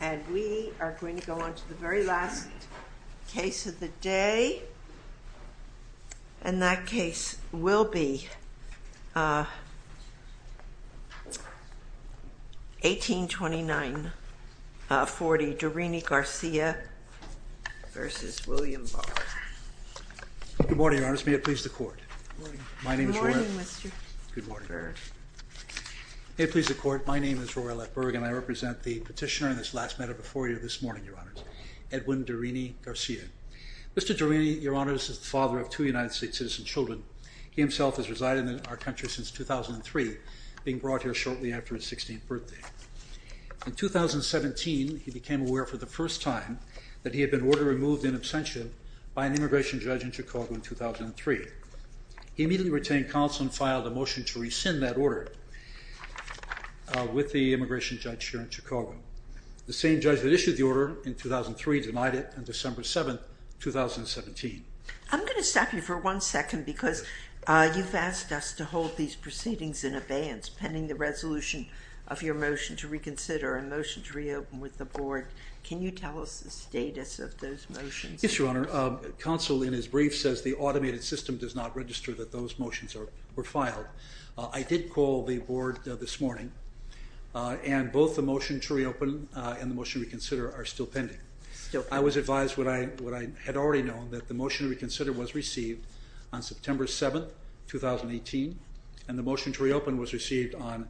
And we are going to go on to the very last case of the day, and that case will be 1829-40 Durini-Garcia v. William Barr. Good morning, Your Honor. May it please the Court. May it please the Court. My name is Royal F. Berg and I represent the petitioner in this last matter before you this morning, Your Honors, Edwin Durini-Garcia. Mr. Durini, Your Honors, is the father of two United States citizen children. He himself has resided in our country since 2003, being brought here shortly after his 16th birthday. In 2017, he became aware for the first time that he had been order-removed in absentia by an immigration judge in Chicago in 2003. He immediately retained counsel and filed a motion to rescind that order with the immigration judge here in Chicago. The same judge that issued the order in 2003 denied it on December 7, 2017. I'm going to stop you for one second because you've asked us to hold these proceedings in abeyance pending the resolution of your motion to reconsider and motion to reopen with the board. Can you tell us the status of those motions? Yes, Your Honor. Counsel, in his brief, says the automated system does not register that those motions were filed. I did call the board this morning, and both the motion to reopen and the motion to reconsider are still pending. I was advised what I had already known, that the motion to reconsider was received on September 7, 2018, and the motion to reopen was received on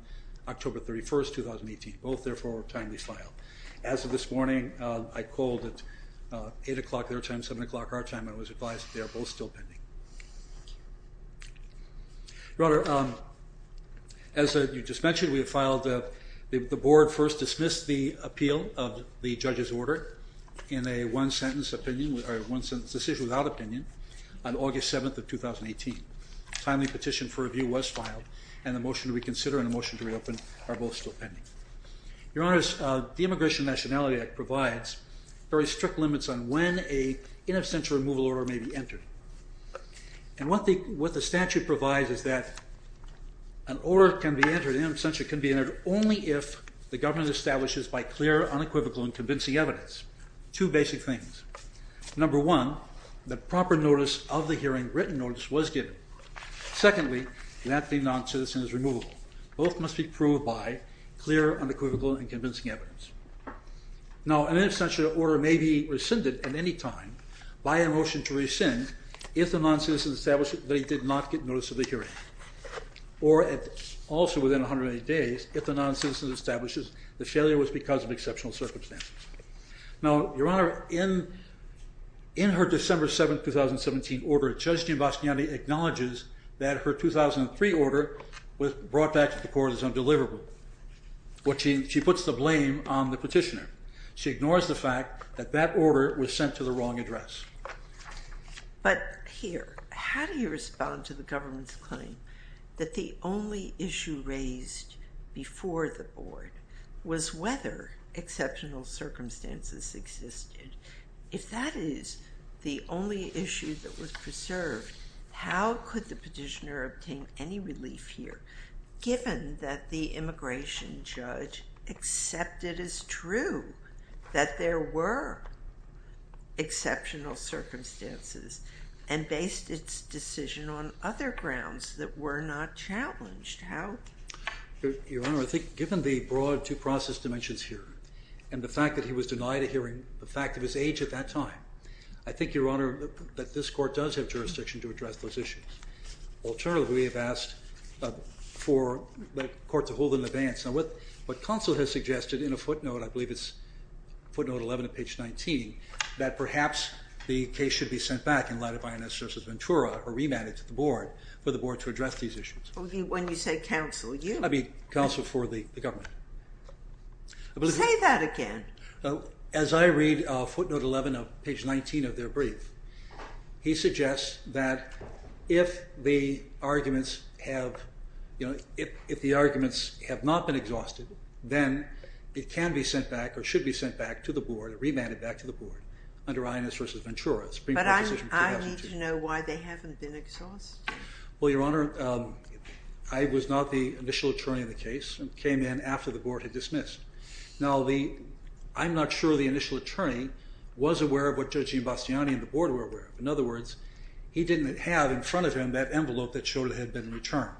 October 31, 2018. Both, therefore, are timely filed. As of this morning, I called at 8 o'clock their time, 7 o'clock our time, and was advised that they are both still pending. Your Honor, as you just mentioned, we have filed, the board first dismissed the appeal of the judge's order in a one-sentence decision without opinion on August 7, 2018. A timely petition for review was filed, and the motion to reconsider and the motion to reopen are both still pending. Your Honor, the Immigration and Nationality Act provides very strict limits on when an in absentia removal order may be entered. And what the statute provides is that an order can be entered, in absentia can be entered, only if the government establishes by clear, unequivocal, and convincing evidence two basic things. Number one, that proper notice of the hearing, written notice, was given. Secondly, that the non-citizen is removable. Both must be proved by clear, unequivocal, and convincing evidence. Now, an in absentia order may be rescinded at any time by a motion to rescind if the non-citizen establishes that he did not get notice of the hearing. Or, also within 180 days, if the non-citizen establishes the failure was because of exceptional circumstances. Now, Your Honor, in her December 7, 2017 order, Judge Giambastiani acknowledges that her 2003 order was brought back to the court as undeliverable. She puts the blame on the petitioner. She ignores the fact that that order was sent to the wrong address. But here, how do you respond to the government's claim that the only issue raised before the board was whether exceptional circumstances existed? If that is the only issue that was preserved, how could the petitioner obtain any relief here, given that the immigration judge accepted as true that there were exceptional circumstances, and based its decision on other grounds that were not challenged? Your Honor, I think given the broad due process dimensions here, and the fact that he was denied a hearing, the fact of his age at that time, I think, Your Honor, that this court does have jurisdiction to address those issues. Alternatively, we have asked for the court to hold an advance. Now, what counsel has suggested in a footnote, I believe it's footnote 11 of page 19, that perhaps the case should be sent back in light of INS versus Ventura, or remanded to the board, for the board to address these issues. When you say counsel, you... I mean, counsel for the government. Say that again. As I read footnote 11 of page 19 of their brief, he suggests that if the arguments have not been exhausted, then it can be sent back, or should be sent back to the board, or remanded back to the board, under INS versus Ventura, Supreme Court decision 2002. But I need to know why they haven't been exhausted. Well, Your Honor, I was not the initial attorney in the case, and came in after the board had dismissed. Now, I'm not sure the initial attorney was aware of what Judge Giambastiani and the board were aware of. In other words, he didn't have in front of him that envelope that showed it had been returned.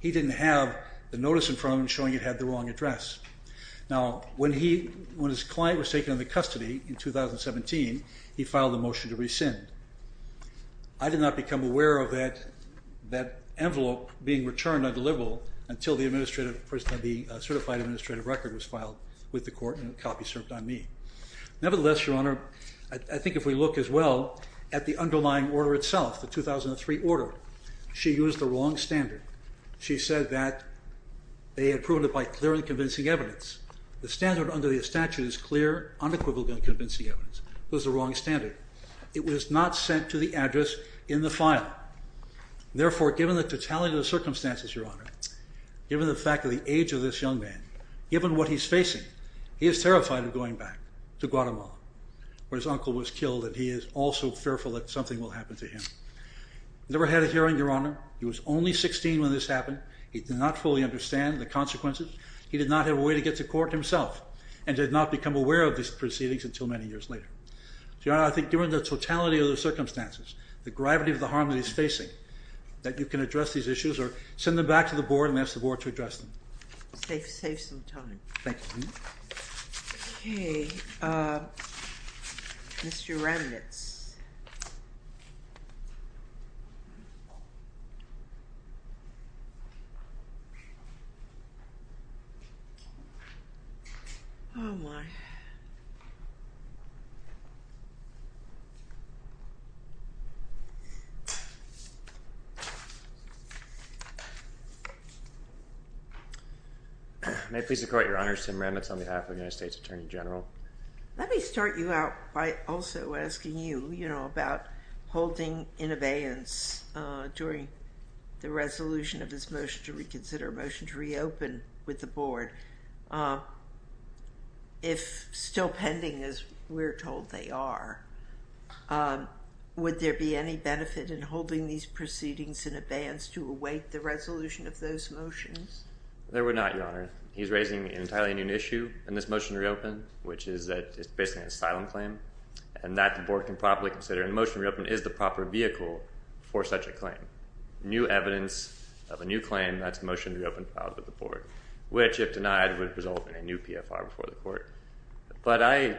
He didn't have the notice in front of him showing it had the wrong address. Now, when his client was taken into custody in 2017, he filed a motion to rescind. I did not become aware of that envelope being returned undeliverable until the certified administrative record was filed with the court and a copy served on me. Nevertheless, Your Honor, I think if we look as well at the underlying order itself, the 2003 order, she used the wrong standard. She said that they had proven it by clear and convincing evidence. The standard under the statute is clear, unequivocal, and convincing evidence. It was the wrong standard. It was not sent to the address in the file. Therefore, given the totality of the circumstances, Your Honor, given the fact of the age of this young man, given what he's facing, he is terrified of going back to Guatemala, where his uncle was killed and he is also fearful that something will happen to him. I never had a hearing, Your Honor. He was only 16 when this happened. He did not fully understand the consequences. He did not have a way to get to court himself and did not become aware of these proceedings until many years later. Your Honor, I think given the totality of the circumstances, the gravity of the harm that he's facing, that you can address these issues or send them back to the board and ask the board to address them. Save some time. Thank you. Okay, Mr. Remnitz. Oh, my. Thank you. May I please equate Your Honor, Tim Remnitz on behalf of the United States Attorney General. Let me start you out by also asking you, you know, about holding in abeyance during the resolution of this motion to reconsider, motion to reopen with the board. If still pending, as we're told they are, would there be any benefit in holding these proceedings in abeyance to await the resolution of those motions? There would not, Your Honor. He's raising an entirely new issue in this motion to reopen, which is that it's basically an asylum claim, and that the board can properly consider, and motion to reopen is the proper vehicle for such a claim. New evidence of a new claim, that's motion to reopen filed with the board, which, if denied, would result in a new PFR before the court. But I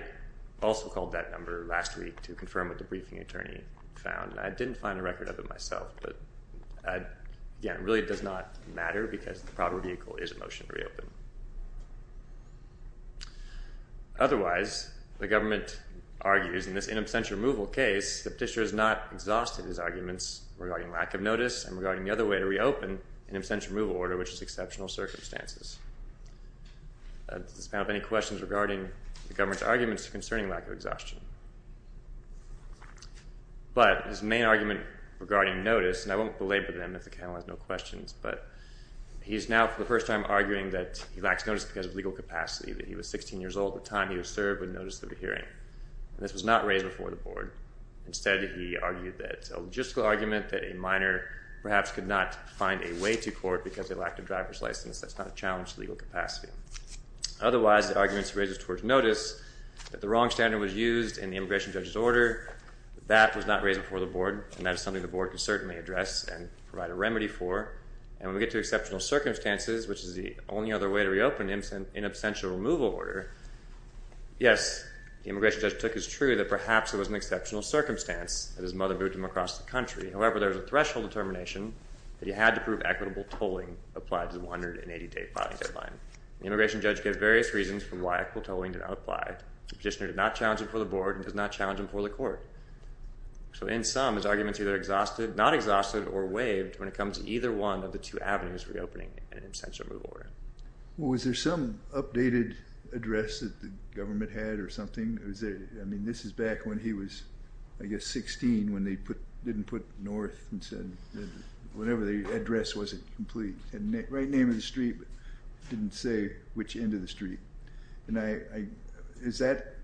also called that number last week to confirm what the briefing attorney found, and I didn't find a record of it myself. But, again, it really does not matter because the proper vehicle is a motion to reopen. Otherwise, the government argues in this in absentia removal case that the petitioner has not exhausted his arguments regarding lack of notice and regarding the other way to reopen in absentia removal order, which is exceptional circumstances. Does this panel have any questions regarding the government's arguments concerning lack of exhaustion? But his main argument regarding notice, and I won't belabor them if the panel has no questions, but he's now for the first time arguing that he lacks notice because of legal capacity, that he was 16 years old at the time he was served with notice of the hearing. This was not raised before the board. Instead, he argued that a logistical argument that a minor perhaps could not find a way to court because they lacked a driver's license, that's not a challenge to legal capacity. Otherwise, the arguments he raises towards notice that the wrong standard was used in the immigration judge's order, that was not raised before the board, and that is something the board can certainly address and provide a remedy for. And when we get to exceptional circumstances, which is the only other way to reopen in absentia removal order, yes, the immigration judge took as true that perhaps it was an exceptional circumstance that his mother moved him across the country. However, there was a threshold determination that he had to prove equitable tolling applied to the 180-day filing deadline. The immigration judge gave various reasons for why equitable tolling did not apply. The petitioner did not challenge it before the board and does not challenge it before the court. So in sum, his arguments are either not exhausted or waived when it comes to either one of the two avenues reopening in absentia removal order. Well, was there some updated address that the government had or something? I mean, this is back when he was, I guess, 16 when they didn't put north and said whenever the address wasn't complete. It had the right name of the street but didn't say which end of the street. And I, is that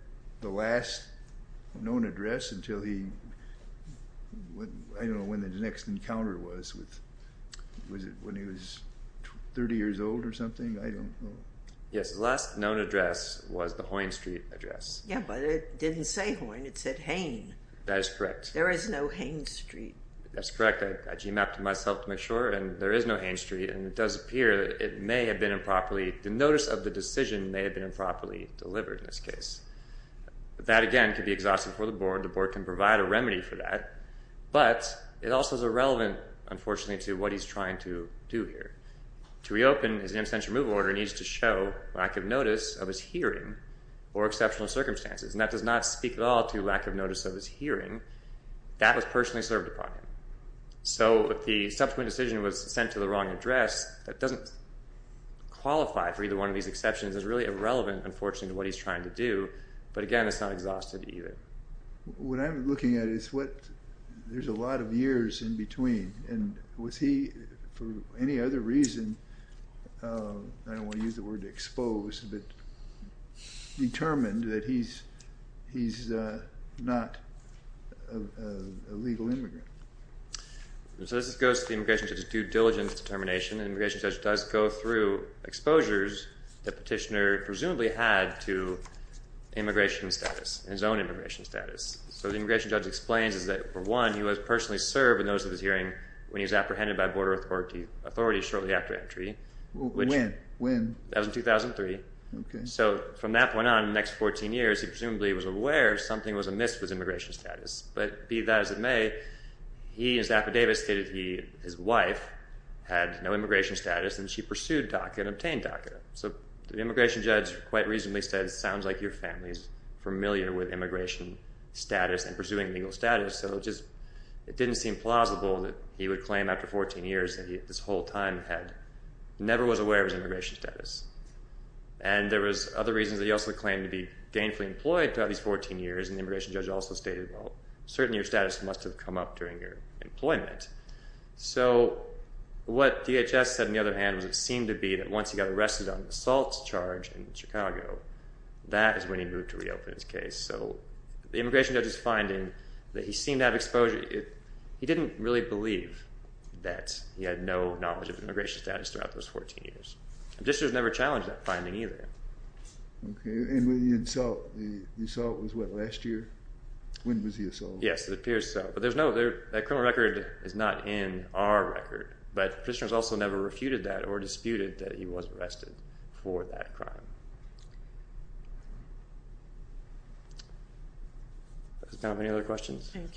the last known address until he, I don't know when the next encounter was with, was it when he was 30 years old or something? I don't know. Yes, the last known address was the Hoyne Street address. Yeah, but it didn't say Hoyne, it said Hain. That is correct. There is no Hain Street. That's correct. I g-mapped myself to make sure and there is no Hain Street and it does appear it may have been improperly. The notice of the decision may have been improperly delivered in this case. That, again, could be exhausted for the board. The board can provide a remedy for that. But it also is irrelevant, unfortunately, to what he's trying to do here. To reopen his absentia removal order needs to show lack of notice of his hearing or exceptional circumstances. And that does not speak at all to lack of notice of his hearing. That was personally served upon him. So if the subsequent decision was sent to the wrong address, that doesn't qualify for either one of these exceptions. It's really irrelevant, unfortunately, to what he's trying to do. But, again, it's not exhausted either. What I'm looking at is what, there's a lot of years in between. And was he, for any other reason, I don't want to use the word expose, but determined that he's not a legal immigrant? So this goes to the immigration judge's due diligence determination. The immigration judge does go through exposures that Petitioner presumably had to immigration status, his own immigration status. So the immigration judge explains is that, for one, he was personally served a notice of his hearing when he was apprehended by Border Authority shortly after entry. When? That was in 2003. So from that point on, the next 14 years, he presumably was aware something was amiss with his immigration status. But be that as it may, he and Zappa Davis stated his wife had no immigration status and she pursued DACA and obtained DACA. So the immigration judge quite reasonably said it sounds like your family is familiar with immigration status and pursuing legal status. So it just didn't seem plausible that he would claim after 14 years that he, this whole time, had never was aware of his immigration status. And there was other reasons that he also claimed to be gainfully employed throughout these 14 years. And the immigration judge also stated, well, certainly your status must have come up during your employment. So what DHS said, on the other hand, was it seemed to be that once he got arrested on an assault charge in Chicago, that is when he moved to reopen his case. So the immigration judge's finding that he seemed to have exposure, he didn't really believe that he had no knowledge of immigration status throughout those 14 years. And Petitioner has never challenged that finding either. Okay, and with the assault, the assault was what, last year? When was the assault? Yes, it appears so. But there's no, that criminal record is not in our record. But Petitioner has also never refuted that or disputed that he was arrested for that crime. Does anyone have any other questions? Thank you.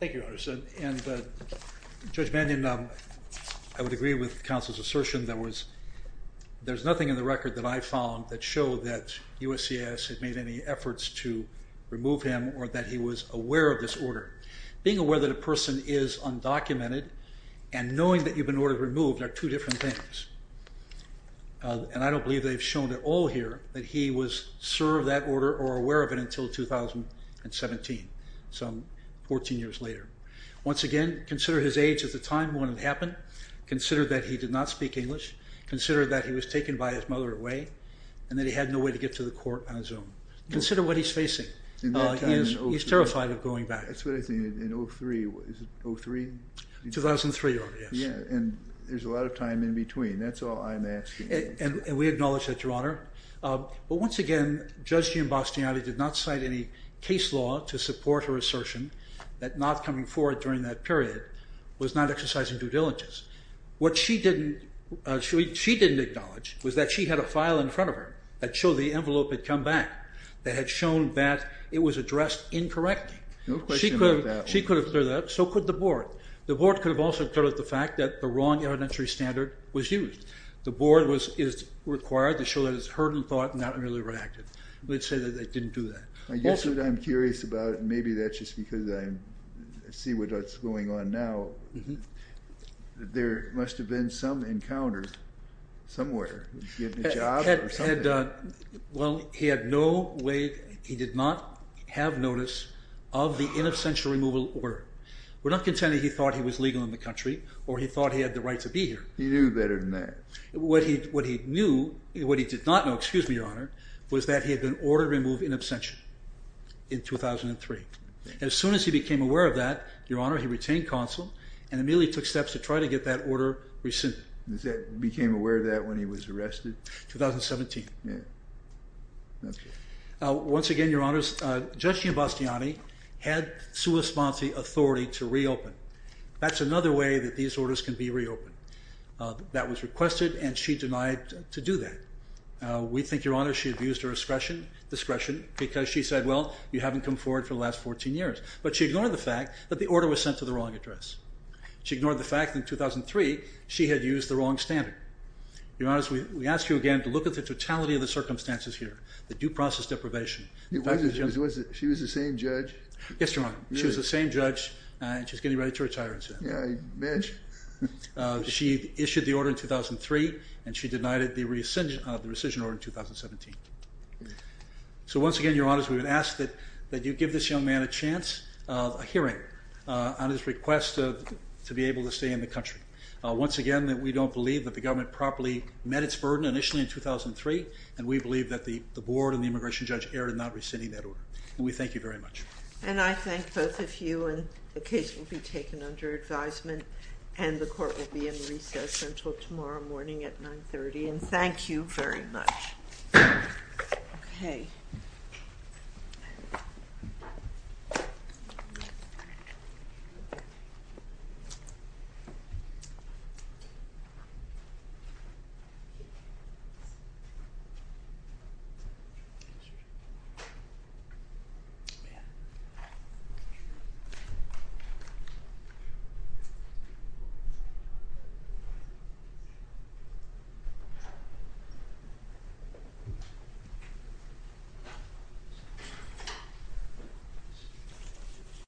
Thank you, Your Honor. And Judge Mannion, I would agree with counsel's assertion that was, there's nothing in the record that I found that showed that USCIS had made any efforts to remove him or that he was aware of this order. Being aware that a person is undocumented and knowing that you've been ordered removed are two different things. And I don't believe they've shown at all here that he was served that order or aware of it until 2017, so 14 years later. Once again, consider his age at the time when it happened. Consider that he did not speak English. Consider that he was taken by his mother away and that he had no way to get to the court on his own. Consider what he's facing. He's terrified of going back. That's what I think, in 03, is it 03? 2003, Your Honor, yes. Yeah, and there's a lot of time in between. That's all I'm asking. And we acknowledge that, Your Honor. But once again, Judge Giambastiani did not cite any case law to support her assertion that not coming forward during that period was not exercising due diligence. What she didn't acknowledge was that she had a file in front of her that showed the envelope had come back that had shown that it was addressed incorrectly. No question about that. She could have cleared that. So could the board. The board could have also cleared the fact that the wrong evidentiary standard was used. The board is required to show that it's heard and thought and not really reacted. We'd say that they didn't do that. I guess what I'm curious about, and maybe that's just because I see what's going on now, there must have been some encounter somewhere. He had a job or something? Well, he had no way, he did not have notice of the inoffensive removal order. We're not contending he thought he was legal in the country or he thought he had the right to be here. He knew better than that. What he knew, what he did not know, excuse me, Your Honor, was that he had been ordered to remove in absentia in 2003. As soon as he became aware of that, Your Honor, he retained counsel and immediately took steps to try to get that order rescinded. He became aware of that when he was arrested? 2017. Once again, Your Honors, Judge Giambastiani had sua sponte authority to reopen. That's another way that these orders can be reopened. That was requested and she denied to do that. We think, Your Honor, she abused her discretion because she said, well, you haven't come forward for the last 14 years. But she ignored the fact that the order was sent to the wrong address. She ignored the fact that in 2003 she had used the wrong standard. Your Honors, we ask you again to look at the totality of the circumstances here, the due process deprivation. She was the same judge? Yes, Your Honor. She was the same judge and she's getting ready to retire. Yeah, I imagine. She issued the order in 2003 and she denied the rescission order in 2017. So once again, Your Honors, we would ask that you give this young man a chance of a hearing on his request to be able to stay in the country. Once again, we don't believe that the government properly met its burden initially in 2003 and we believe that the board and the immigration judge erred in not rescinding that order. We thank you very much. And I thank both of you and the case will be taken under advisement and the court will be in recess until tomorrow morning at 9.30. And thank you very much. Okay. Thank you.